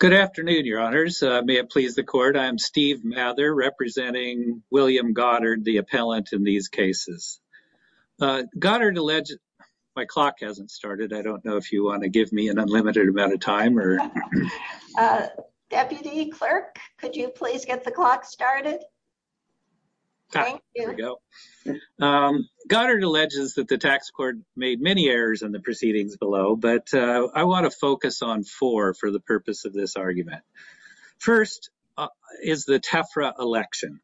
Good afternoon, your honors. May it please the court. I'm Steve Mather, representing William Goddard, the appellant in these cases. Goddard alleges... My clock hasn't started. I don't know if you want to give me an unlimited amount of time or... Deputy Clerk, could you please get the clock started? Goddard alleges that the tax court made many errors in the proceedings below, but I want to focus on four for the purpose of this argument. First is the TEFRA election.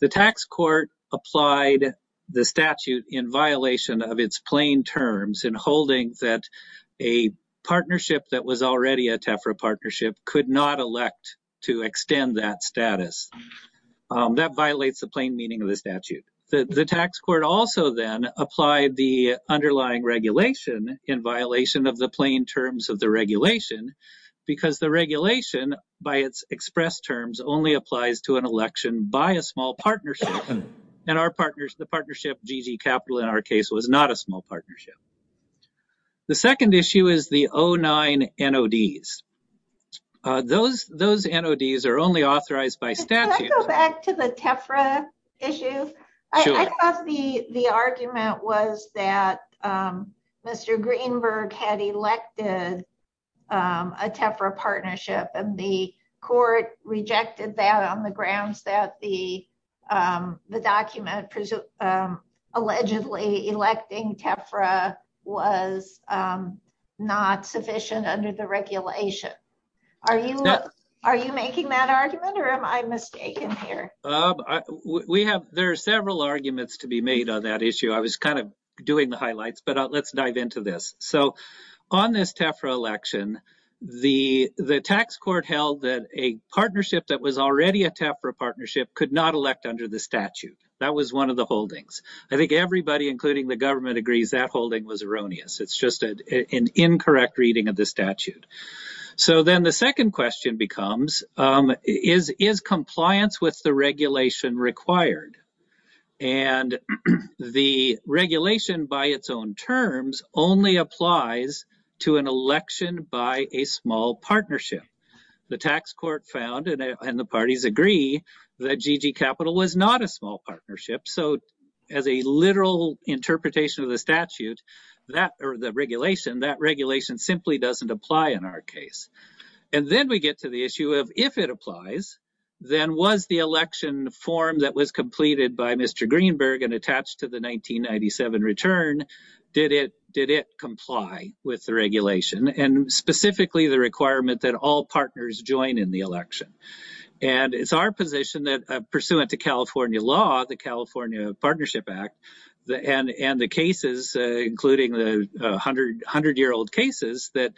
The tax court applied the statute in violation of its plain terms in holding that a partnership that was already a TEFRA partnership could not elect to extend that status. That violates the plain meaning of the statute. The tax court also then applied the underlying regulation in violation of the plain terms of the regulation because the regulation, by its expressed terms, only applies to an election by a small partnership, and the partnership, GG Capital, in our case, was not a small partnership. The second issue is the 09 NODs. Those NODs are only authorized by statute. Can I go back to the TEFRA issue? I thought the argument was that Mr. Greenberg had elected a TEFRA partnership, and the court rejected that on the grounds that the document allegedly electing TEFRA was not sufficient under the regulation. Are you making that argument, or am I mistaken here? There are several arguments to be made on that issue. I was kind of doing the highlights, but let's dive into this. So on this TEFRA election, the tax court held that a partnership that was already a TEFRA partnership could not elect under the statute. That was one of the holdings. I think everybody, including the government, agrees that holding was erroneous. It's just an incorrect reading of the statute. So then the second question becomes, is compliance with the regulation required? The regulation, by its own terms, only applies to an election by a small partnership. The tax court found, and the parties agree, that GG Capital was not a small partnership. So as a literal interpretation of the regulation, that regulation simply doesn't apply in our case. Then we get to the issue of, if it applies, then was the election form that was completed by Mr. Greenberg and attached to the 1997 return, did it comply with the regulation, and specifically the requirement that all pursuant to California law, the California Partnership Act, and the cases, including the 100-year-old cases, that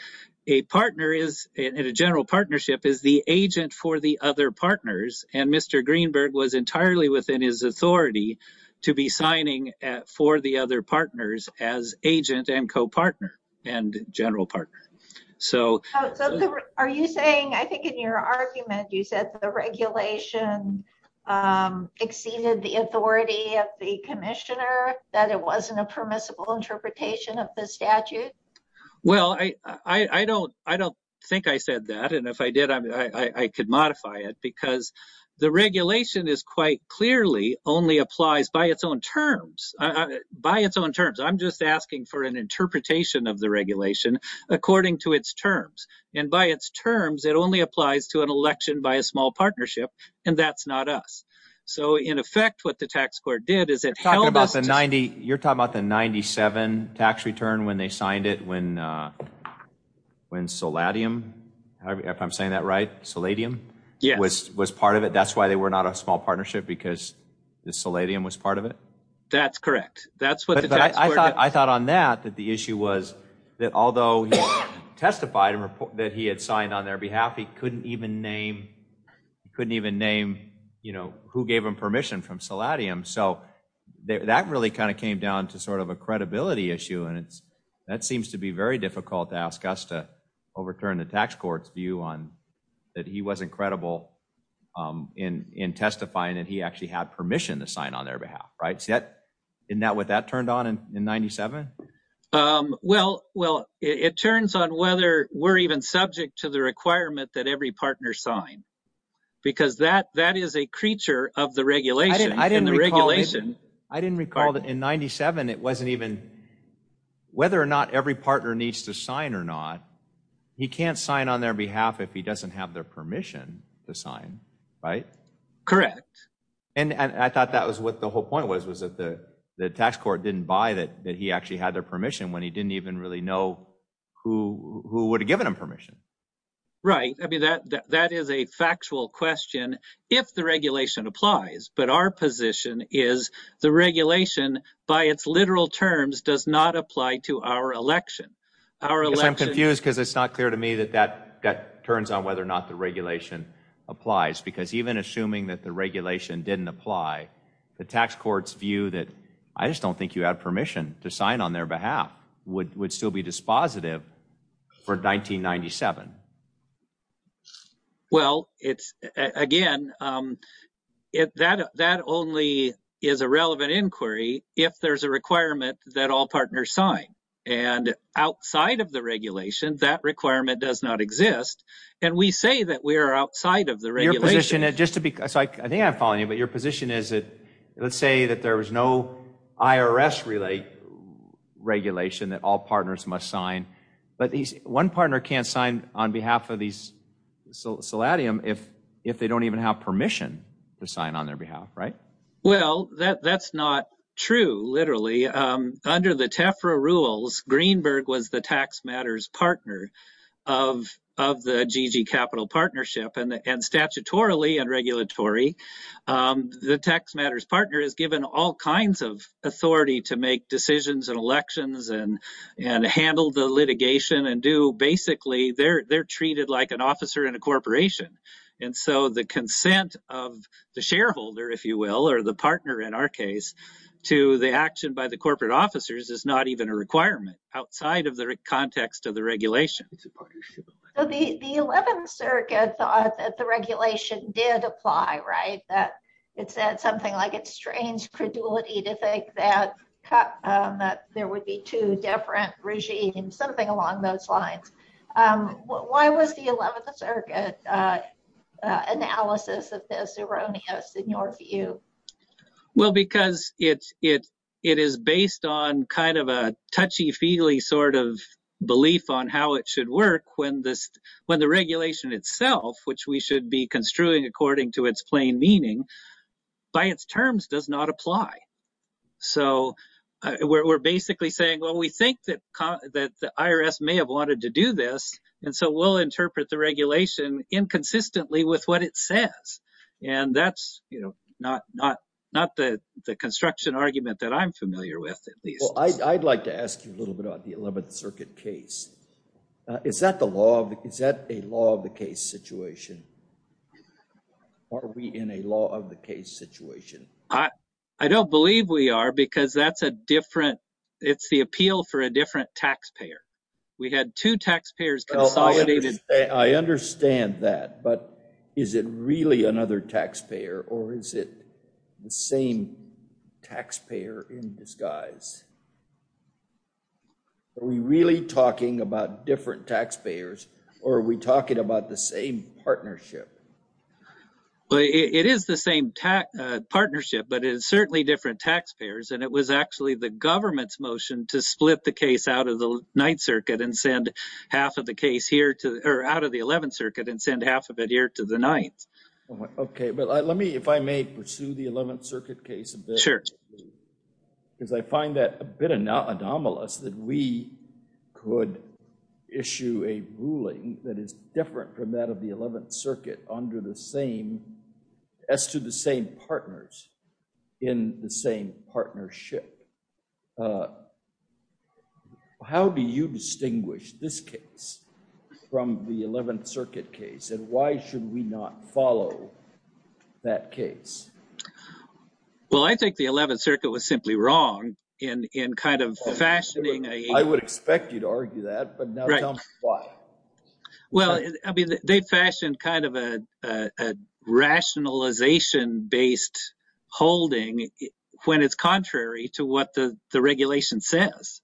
a partner in a general partnership is the agent for the other partners, and Mr. Greenberg was entirely within his authority to be signing for the other partners as agent and co-partner and general partner. So are you saying, I think in your argument, you said the regulation exceeded the authority of the commissioner, that it wasn't a permissible interpretation of the statute? Well, I don't think I said that, and if I did, I could modify it, because the regulation is quite clearly only applies by its own terms. By its own terms, I'm just asking for an interpretation of the regulation according to its terms. And by its small partnership, and that's not us. So in effect, what the tax court did is it held us to- You're talking about the 1997 tax return when they signed it, when Seladium, if I'm saying that right, Seladium was part of it. That's why they were not a small partnership, because Seladium was part of it? That's correct. That's what the tax court did. I thought on that, that the issue was that although he testified and reported that he had signed on their behalf, he couldn't even name who gave him permission from Seladium. So that really kind of came down to sort of a credibility issue. And that seems to be very difficult to ask us to overturn the tax court's view on that he wasn't credible in testifying that he actually had permission to sign on their behalf, right? Isn't that what that turned on in 97? Well, it turns on whether we're even subject to the requirement that every partner sign, because that is a creature of the regulation. I didn't recall that in 97, it wasn't even whether or not every partner needs to sign or not. He can't sign on their behalf if he doesn't have their permission to sign, right? Correct. And I thought that was what the whole point was, was that the tax court didn't buy that he actually had their permission when he didn't even really know who would have given him permission. Right. I mean, that is a factual question if the regulation applies. But our position is the regulation, by its literal terms, does not apply to our election. I'm confused because it's not clear to me that that turns on whether or not the regulation applies, because even assuming that the regulation didn't apply, the tax courts view that I just don't think you have permission to sign on their behalf would would still be dispositive for 1997. Well, it's again, that that only is a relevant inquiry if there's a requirement that all partners sign and outside of the regulation, that requirement does not exist. And we say that we are outside of the regulation just to be. So I think I'm following but your position is that let's say that there was no IRS relay regulation that all partners must sign. But one partner can't sign on behalf of these. So Seladium, if if they don't even have permission to sign on their behalf. Right. Well, that's not true. Literally, under the Tefra rules, Greenberg was the tax matters partner of of the capital partnership and statutorily and regulatory the tax matters partner is given all kinds of authority to make decisions and elections and and handle the litigation and do basically they're they're treated like an officer in a corporation. And so the consent of the shareholder, if you will, or the partner in our case, to the action by the corporate officers is not even a requirement outside of the context of the did apply. Right. That it said something like it's strange credulity to think that that there would be two different regimes, something along those lines. Why was the 11th Circuit analysis of this erroneous in your view? Well, because it's it it is based on kind of a touchy feely sort of belief on how it should work when this when the regulation itself, which we should be construing according to its plain meaning by its terms, does not apply. So we're basically saying, well, we think that that the IRS may have wanted to do this. And so we'll interpret the regulation inconsistently with what it says. And that's not not not the the construction argument that I'm familiar with. I'd like to ask you a little bit about the 11th Circuit case. Is that the law? Is that a law of the case situation? Are we in a law of the case situation? I don't believe we are, because that's a different it's the appeal for a different taxpayer. We had two taxpayers consolidated. I understand that. But is it really another taxpayer or is it the same taxpayer in disguise? Are we really talking about different taxpayers or are we talking about the same partnership? Well, it is the same partnership, but it is certainly different taxpayers. And it was actually the government's motion to split the case out of the 9th Circuit and send half of the case here to or out of the 11th Circuit and send half of it here to the 9th. OK, but let me if I may pursue the 11th Circuit case. Because I find that a bit anomalous that we could issue a ruling that is different from that of the 11th Circuit under the same as to the same partners in the same partnership. How do you distinguish this case from the 11th Circuit case? And why should we not follow that case? Well, I think the 11th Circuit was simply wrong in in kind of fashioning. I would expect you to argue that, but now tell me why. Well, I mean, they fashioned kind of a rationalization based holding when it's contrary to what the regulation says.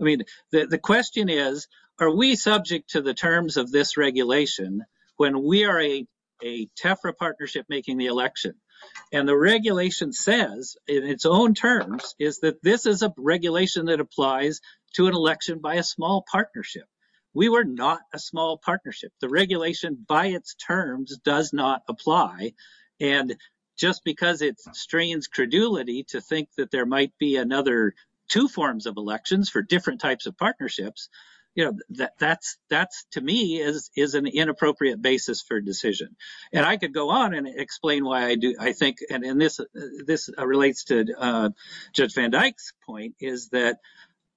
I mean, the question is, are we subject to the terms of this regulation when we are a Tefra partnership making the election? And the regulation says in its own terms is that this is a regulation that applies to an election by a small partnership. We were not a small partnership. The regulation by its terms does not apply. And just because it strains credulity to think that there might be another two forms of elections for different types of partnerships, you know, that that's that's to me is is an inappropriate basis for decision. And I could go on and explain why I do. I think. And this this relates to Judge Van Dyck's point is that,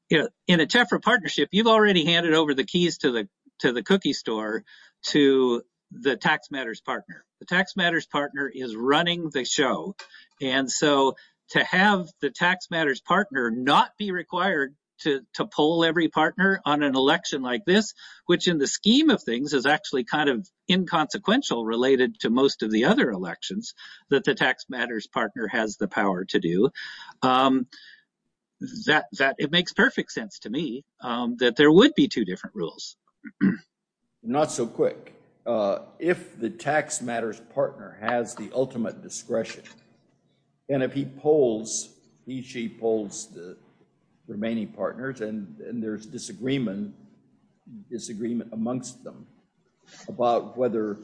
you know, in a Tefra partnership, you've already handed over the keys to the to the cookie store to the tax matters partner. The tax matters partner is running the show. And so to have the tax matters partner not be required to to pull every partner on an election like this, which in the scheme of things is actually kind of inconsequential related to most of the other elections that the tax matters partner has the power to do that, that it makes perfect sense to me that there would be two different rules. Not so quick. If the tax matters partner has the ultimate discretion, and if he polls, he she polls the remaining partners and there's disagreement, disagreement amongst them about whether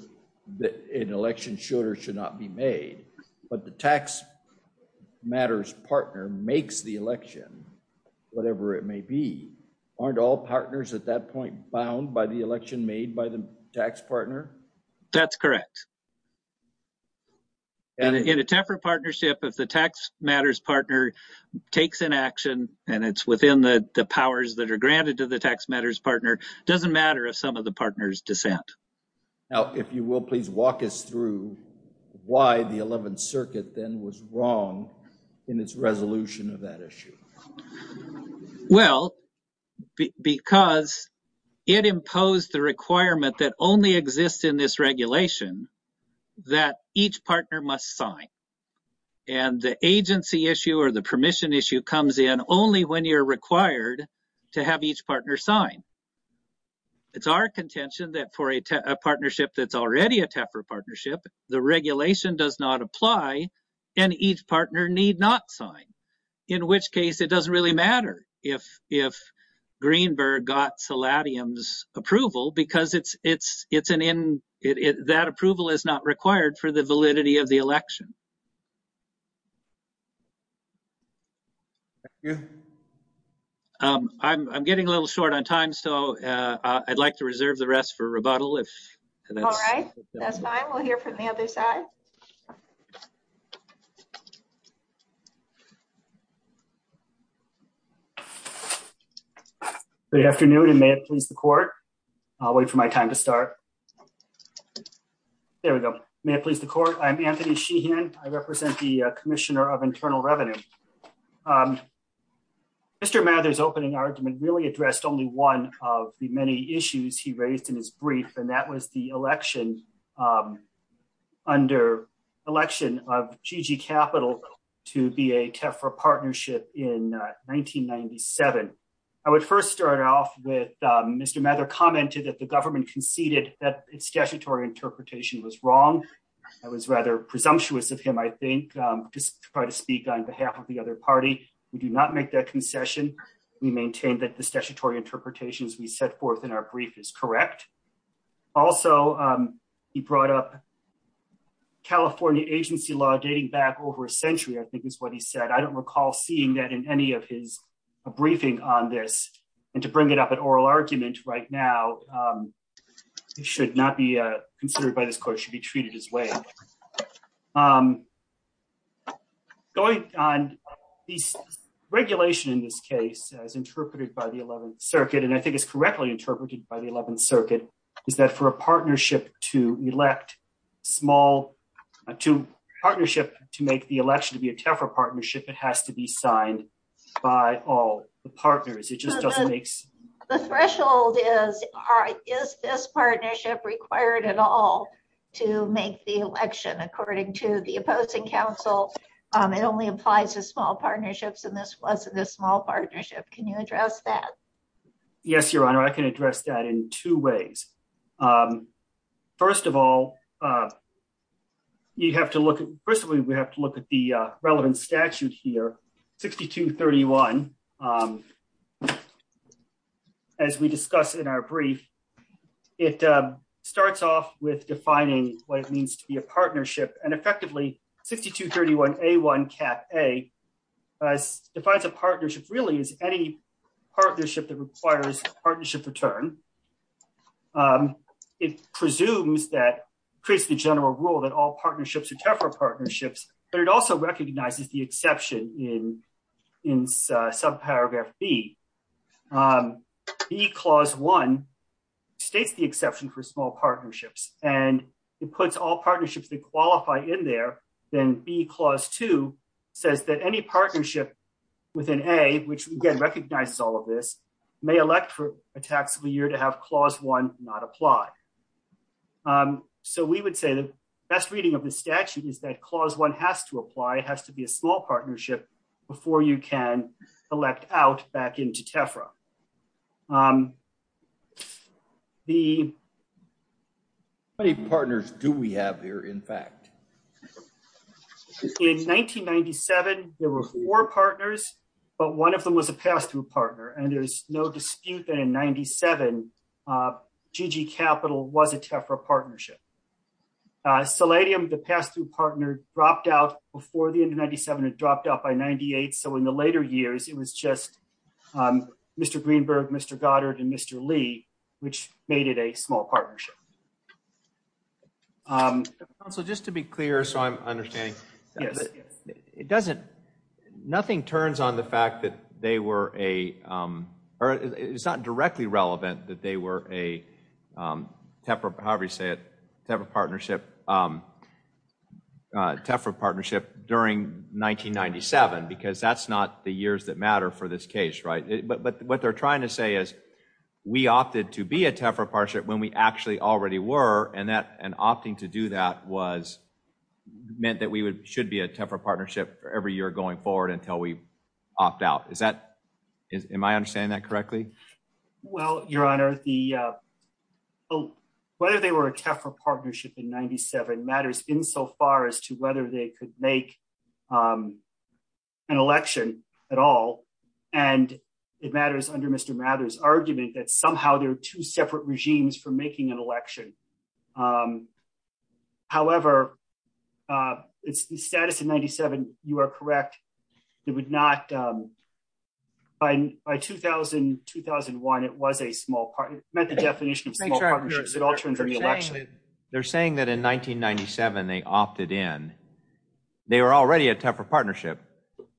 that an election should or should not be made. But the tax matters partner makes the election, whatever it may be, aren't all partners at that point bound by the election made by the tax partner? That's correct. And in a Tefra partnership, if the tax matters partner takes an action and it's within the powers that are granted to the tax matters partner, doesn't matter if some of the partners dissent. Now, if you will, please walk us through why the 11th Circuit then was wrong in its resolution of that issue. Well, because it imposed the requirement that only exists in this regulation that each partner must sign. And the agency issue or the permission issue comes in only when you're required to have each partner sign. It's our contention that for a partnership that's already a Tefra partnership, the regulation does not apply and each partner need not sign, in which case it doesn't really matter if Greenberg got Seladium's approval because that approval is not required for the validity of the election. I'm getting a little short on time, so I'd like to reserve the rest for rebuttal if that's all right. That's fine. We'll hear from the other side. Good afternoon and may it please the court. I'll wait for my time to start. There we go. May it please the court. I'm Anthony Sheehan. I represent the Greenberg Association. Mr. Mather's opening argument really addressed only one of the many issues he raised in his brief, and that was the election of GG Capital to be a Tefra partnership in 1997. I would first start off with Mr. Mather commented that the government conceded that its statutory interpretation was wrong. I was rather presumptuous of him, I think, to try to speak on behalf of the other party. We do not make that concession. We maintain that the statutory interpretations we set forth in our brief is correct. Also, he brought up California agency law dating back over a century, I think is what he said. I don't recall seeing that in any of his briefing on this, and to bring it up at oral argument right now should not be considered by this court. It should be treated his way. Going on these regulation in this case as interpreted by the 11th circuit, and I think it's correctly interpreted by the 11th circuit, is that for a partnership to elect small to partnership to make the election to be a Tefra partnership, it has to be signed by all the partners. It just doesn't make sense. The threshold is, is this partnership required at all to make the election according to the opposing counsel? It only applies to small partnerships, and this wasn't a small partnership. Can you address that? Yes, Your Honor. I can address that in two ways. First of all, we have to look at the relevant statute here, 6231, and as we discussed in our brief, it starts off with defining what it means to be a partnership, and effectively 6231A1 cap A defines a partnership really as any partnership that requires partnership return. It presumes that, creates the general rule that all partnerships are B. B clause one states the exception for small partnerships, and it puts all partnerships that qualify in there. Then B clause two says that any partnership within A, which again recognizes all of this, may elect for a taxable year to have clause one not apply. So we would say the best reading of the statute is that clause one has to apply. It has to be a small partnership before you can elect out back into TEFRA. How many partners do we have here, in fact? In 1997, there were four partners, but one of them was a pass-through partner, and there's no dispute that in 97, GG Capital was a TEFRA partnership. Seladium, the pass-through partner, dropped out before the end of 97, it dropped out by 98. So in the later years, it was just Mr. Greenberg, Mr. Goddard, and Mr. Lee, which made it a small partnership. Council, just to be clear, so I'm understanding. Yes. It doesn't, nothing turns on the fact that they were a, or it's not directly relevant that they were a TEFRA, however you say it, TEFRA partnership during 1997, because that's not the years that matter for this case, right? But what they're trying to say is we opted to be a TEFRA partnership when we actually already were, and opting to do that was, meant that we should be a TEFRA partnership for every year going forward until we opt out. Is that, am I understanding that correctly? Well, your honor, the, whether they were a TEFRA partnership in 97 matters insofar as to whether they could make an election at all. And it matters under Mr. Mather's argument that somehow there are two separate regimes for making an election. However, it's the status in 97, you are correct, it would not, by 2000, 2001, it was a small part, it meant the definition of small partnerships in all terms of the election. They're saying that in 1997, they opted in. They were already a TEFRA partnership,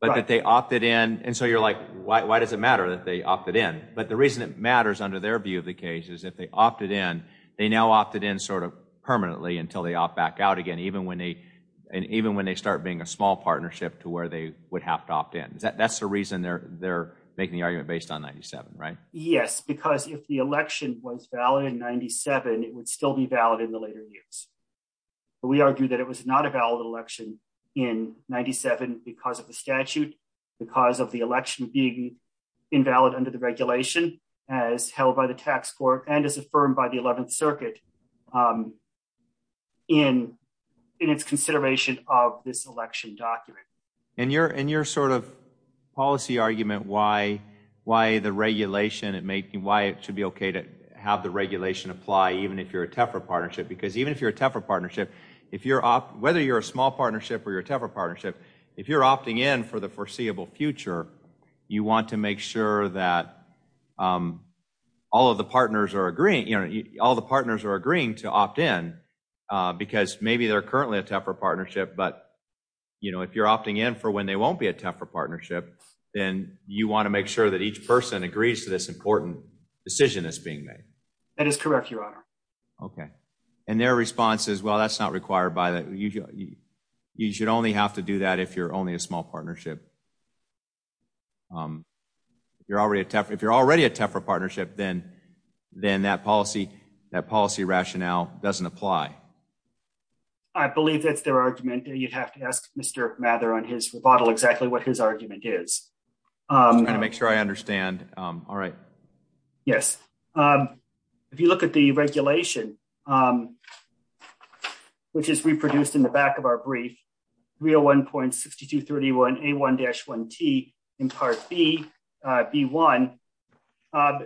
but that they opted in, and so you're like, why does it matter that they opted in? But the reason it matters under their view of the case is if they opted in, they now opted in sort of permanently until they opt back out again, even when they, start being a small partnership to where they would have to opt in. That's the reason they're, they're making the argument based on 97, right? Yes, because if the election was valid in 97, it would still be valid in the later years. But we argue that it was not a valid election in 97 because of the statute, because of the election being invalid under the regulation as held by the tax court and as affirmed by the 11th circuit in its consideration of this election document. And your sort of policy argument, why the regulation, why it should be okay to have the regulation apply even if you're a TEFRA partnership, because even if you're a TEFRA partnership, if you're, whether you're a small partnership or you're a TEFRA partnership, if you're opting in for the foreseeable future, you want to make sure that all of the partners are agreeing, you know, all the partners are agreeing to opt in because maybe they're currently a TEFRA partnership. But, you know, if you're opting in for when they won't be a TEFRA partnership, then you want to make sure that each person agrees to this important decision that's being made. That is correct, your honor. Okay. And their response is, well, that's not required by that. You should only have to do that if you're only a small partnership. If you're already a TEFRA partnership, then that policy rationale doesn't apply. I believe that's their argument. You'd have to ask Mr. Mather on his rebuttal exactly what his argument is. I'm trying to make sure I understand. All right. Yes. If you look at the regulation, which is reproduced in the back of our brief, 301.6231A1-1T in Part B, B1,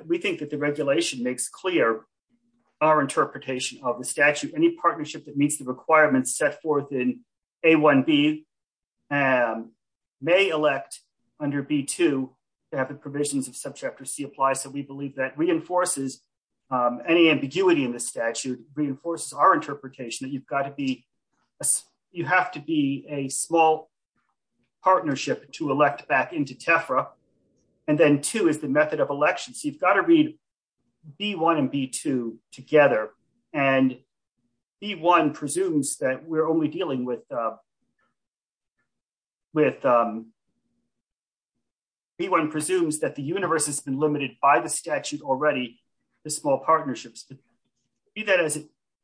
we think that the regulation makes clear our interpretation of the statute. Any partnership that meets the requirements set forth in A1B may elect under B2 to have the provisions of reinforces our interpretation that you have to be a small partnership to elect back into TEFRA. And then two is the method of election. So you've got to read B1 and B2 together. And B1 presumes that the universe has been limited by the statute already, the small partnerships. To do that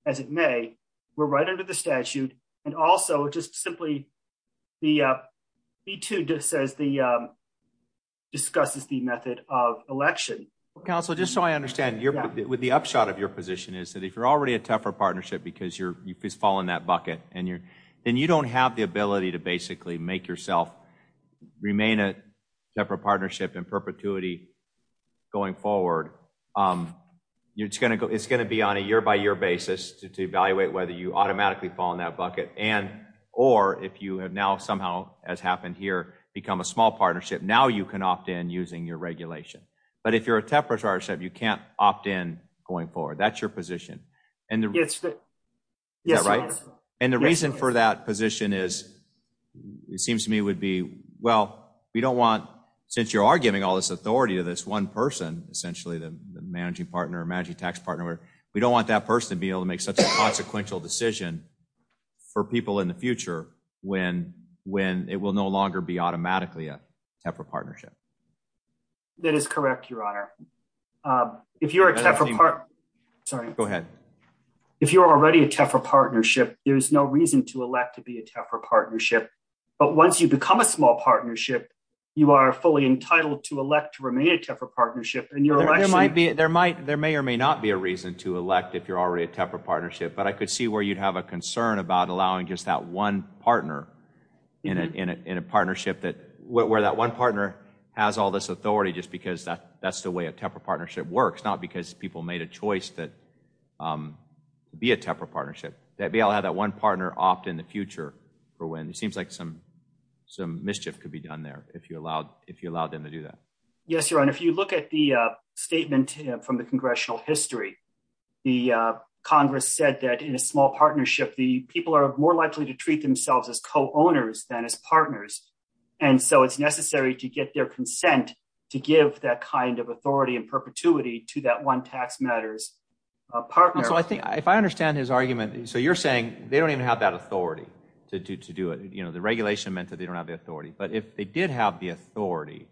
as it may, we're right under the statute. And also just simply B2 discusses the method of election. Counsel, just so I understand, with the upshot of your position is that if you're already a TEFRA partnership because you fall in that bucket, then you don't have the ability to basically make yourself remain a TEFRA partnership in your, it's going to be on a year by year basis to evaluate whether you automatically fall in that bucket. And, or if you have now somehow as happened here, become a small partnership, now you can opt in using your regulation. But if you're a TEFRA partnership, you can't opt in going forward. That's your position. And the reason for that position is, it seems to me would be, well, we don't want, since you are giving all this authority to this person, essentially the managing partner or managing tax partner, we don't want that person to be able to make such a consequential decision for people in the future when it will no longer be automatically a TEFRA partnership. That is correct, your honor. If you're a TEFRA part, sorry, go ahead. If you're already a TEFRA partnership, there's no reason to elect to be a TEFRA partnership. But once you become a small partnership, you are fully entitled to elect to remain a TEFRA partnership. There may or may not be a reason to elect if you're already a TEFRA partnership, but I could see where you'd have a concern about allowing just that one partner in a partnership that where that one partner has all this authority, just because that's the way a TEFRA partnership works, not because people made a choice that be a TEFRA partnership, that be able to have that one partner opt in the future for when it seems like some mischief could be done there if you allowed them to do that. Yes, your honor. If you look at the statement from the congressional history, the Congress said that in a small partnership, the people are more likely to treat themselves as co-owners than as partners. And so it's necessary to get their consent to give that kind of authority and perpetuity to that one tax matters partner. So I think if I understand his argument, so you're saying they don't even have that authority to do it. You know, the regulation meant that they don't have the authority, but if they did have the authority,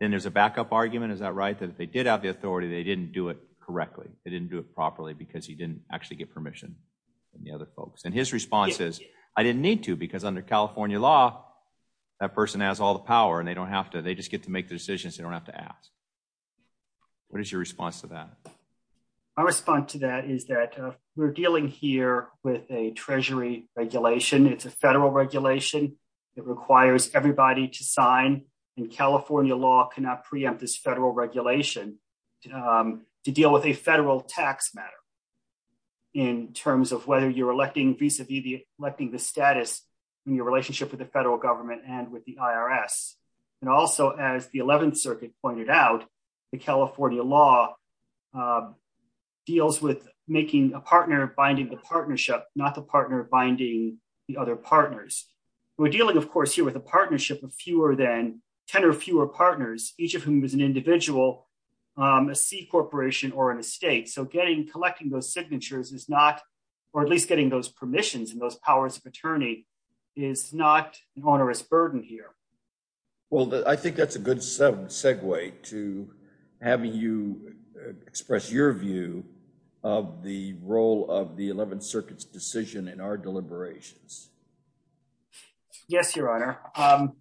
then there's a argument. Is that right? That if they did have the authority, they didn't do it correctly. They didn't do it properly because he didn't actually get permission from the other folks. And his response is I didn't need to, because under California law, that person has all the power and they don't have to, they just get to make the decisions. They don't have to ask. What is your response to that? I respond to that is that we're dealing here with a treasury regulation. It's a federal regulation that requires everybody to sign and California law cannot preempt this federal regulation to deal with a federal tax matter in terms of whether you're electing vis-a-vis the electing the status in your relationship with the federal government and with the IRS. And also as the 11th circuit pointed out, the California law deals with making a partner, binding the partnership, not the partner binding the other partners. We're dealing, of course, here with a partnership of fewer than 10 or fewer partners, each of whom is an individual, um, a C corporation or an estate. So getting, collecting those signatures is not, or at least getting those permissions and those powers of attorney is not an onerous burden here. Well, I think that's a good segue to having you express your view of the role of the 11th decision in our deliberations. Yes, your honor. Um,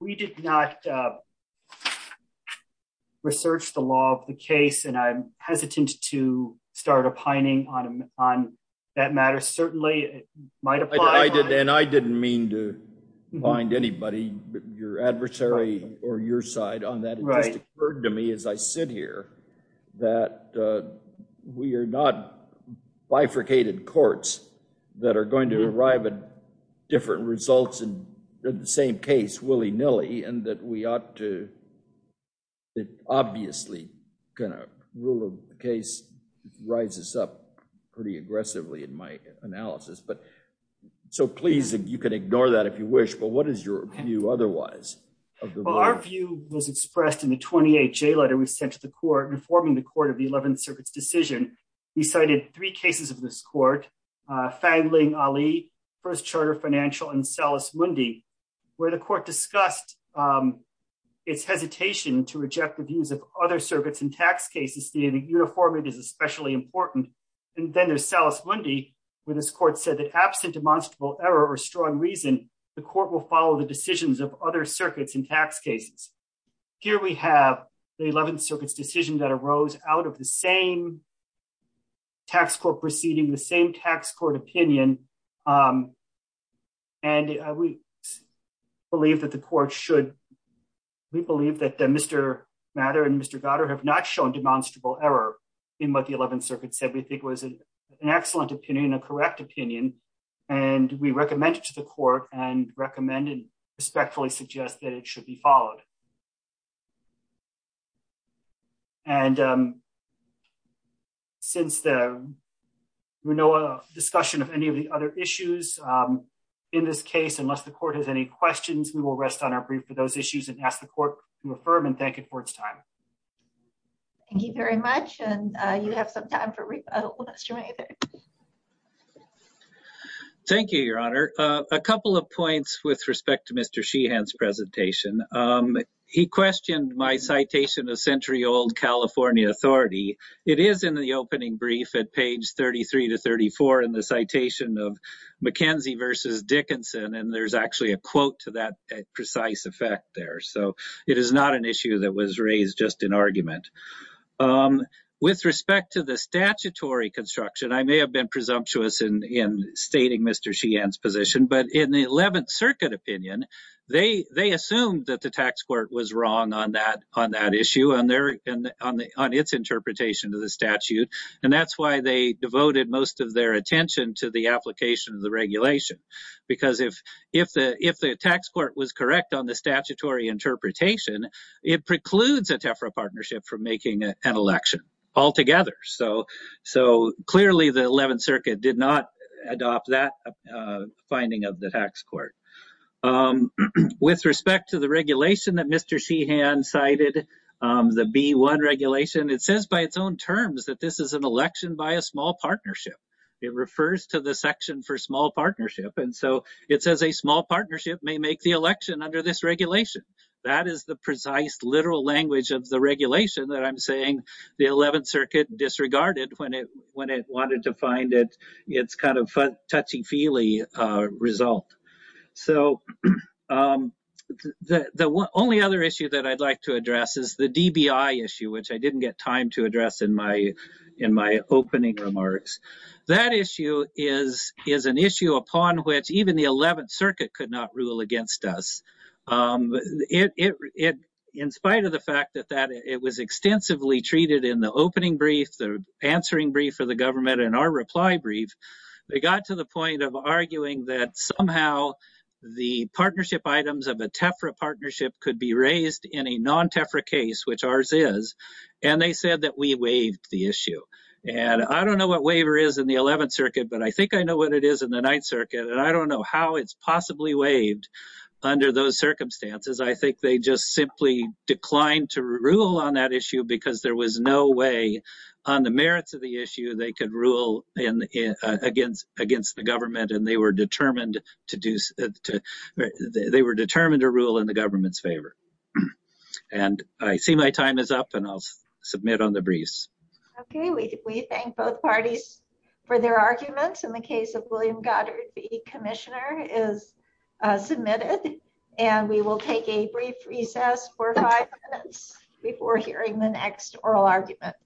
we did not, uh, research the law of the case and I'm hesitant to start opining on, on that matter. Certainly might apply. I did. And I didn't mean to find anybody, your adversary or your side on that. It just occurred to me as I sit here that, uh, we are not bifurcated courts that are going to arrive at different results in the same case, willy nilly, and that we ought to, it obviously kind of rule of the case rises up pretty aggressively in my analysis. But so please, you can ignore that if you wish, but what is your view otherwise? Well, our view was expressed in the 28 J letter. We've sent to the court and forming the court of the 11th circuits decision. He cited three cases of this court, uh, fangling Ali first charter financial and Salus Mundi where the court discussed, um, it's hesitation to reject the views of other circuits and tax cases. The uniform it is especially important. And then there's Salus Mundi where this court said that absent demonstrable error or strong reason, the court will follow the decisions of other circuits and tax cases. Here we have the 11th circuits decision that arose out of the same tax court proceeding, the same tax court opinion. Um, and we believe that the court should, we believe that the Mr. Matter and Mr. Goddard have not shown demonstrable error in what the 11th circuit said. We think it was an excellent opinion, a correct opinion, and we recommend it to the court and recommend and respectfully suggest that it should be followed. And, um, since the discussion of any of the other issues, um, in this case, unless the court has any questions, we will rest on our brief for those issues and ask the court to affirm and thank it for its time. Thank you very much. And, uh, you have some time for, uh, let's join you there. Thank you, your honor. Uh, a couple of points with respect to Mr. Sheehan's presentation. Um, he questioned my citation of century old California authority. It is in the opening brief at page 33 to 34 in the citation of McKenzie versus Dickinson. And there's actually a quote to that precise effect there. So it is not an issue that was raised just in argument. Um, with respect to the statutory construction, I may have been presumptuous in, in stating Mr. Sheehan's position, but in the 11th circuit opinion, they, they assumed that the tax court was wrong on that, on that issue on their, on the, on its interpretation of the statute. And that's why they devoted most of their attention to the application of the regulation. Because if, if the, if the tax court was correct on the statutory interpretation, it precludes a Tefra partnership from making an election altogether. So, so clearly the 11th circuit did not adopt that, uh, finding of the tax court. Um, with respect to the regulation that Mr. Sheehan cited, um, the B1 regulation, it says by its own terms that this is an election by a small partnership. And so it says a small partnership may make the election under this regulation. That is the precise literal language of the regulation that I'm saying the 11th circuit disregarded when it, when it wanted to find it, it's kind of touchy feely, uh, result. So, um, the, the only other issue that I'd like to address is the DBI issue, which I didn't get time to address in my, in my opening remarks. That issue is, is an issue upon which even the 11th circuit could not rule against us. Um, it, it, it, in spite of the fact that that it was extensively treated in the opening brief, the answering brief for the government and our reply brief, they got to the point of arguing that somehow the partnership items of a Tefra partnership could be raised in a non-Tefra case, which ours is. And they said that we waived the issue. And I don't know what waiver is in the 11th circuit, but I think I know what it is in the ninth circuit. And I don't know how it's possibly waived under those circumstances. I think they just simply declined to rule on that issue because there was no way on the merits of the issue. They could rule in, uh, against, against the government and they were determined to do, they were determined to rule in the government's favor. And I see my time is up and I'll submit on the briefs. Okay. We, we thank both parties for their arguments in the case of William Goddard v. Commissioner is, uh, submitted and we will take a brief recess for five minutes before hearing the next oral argument.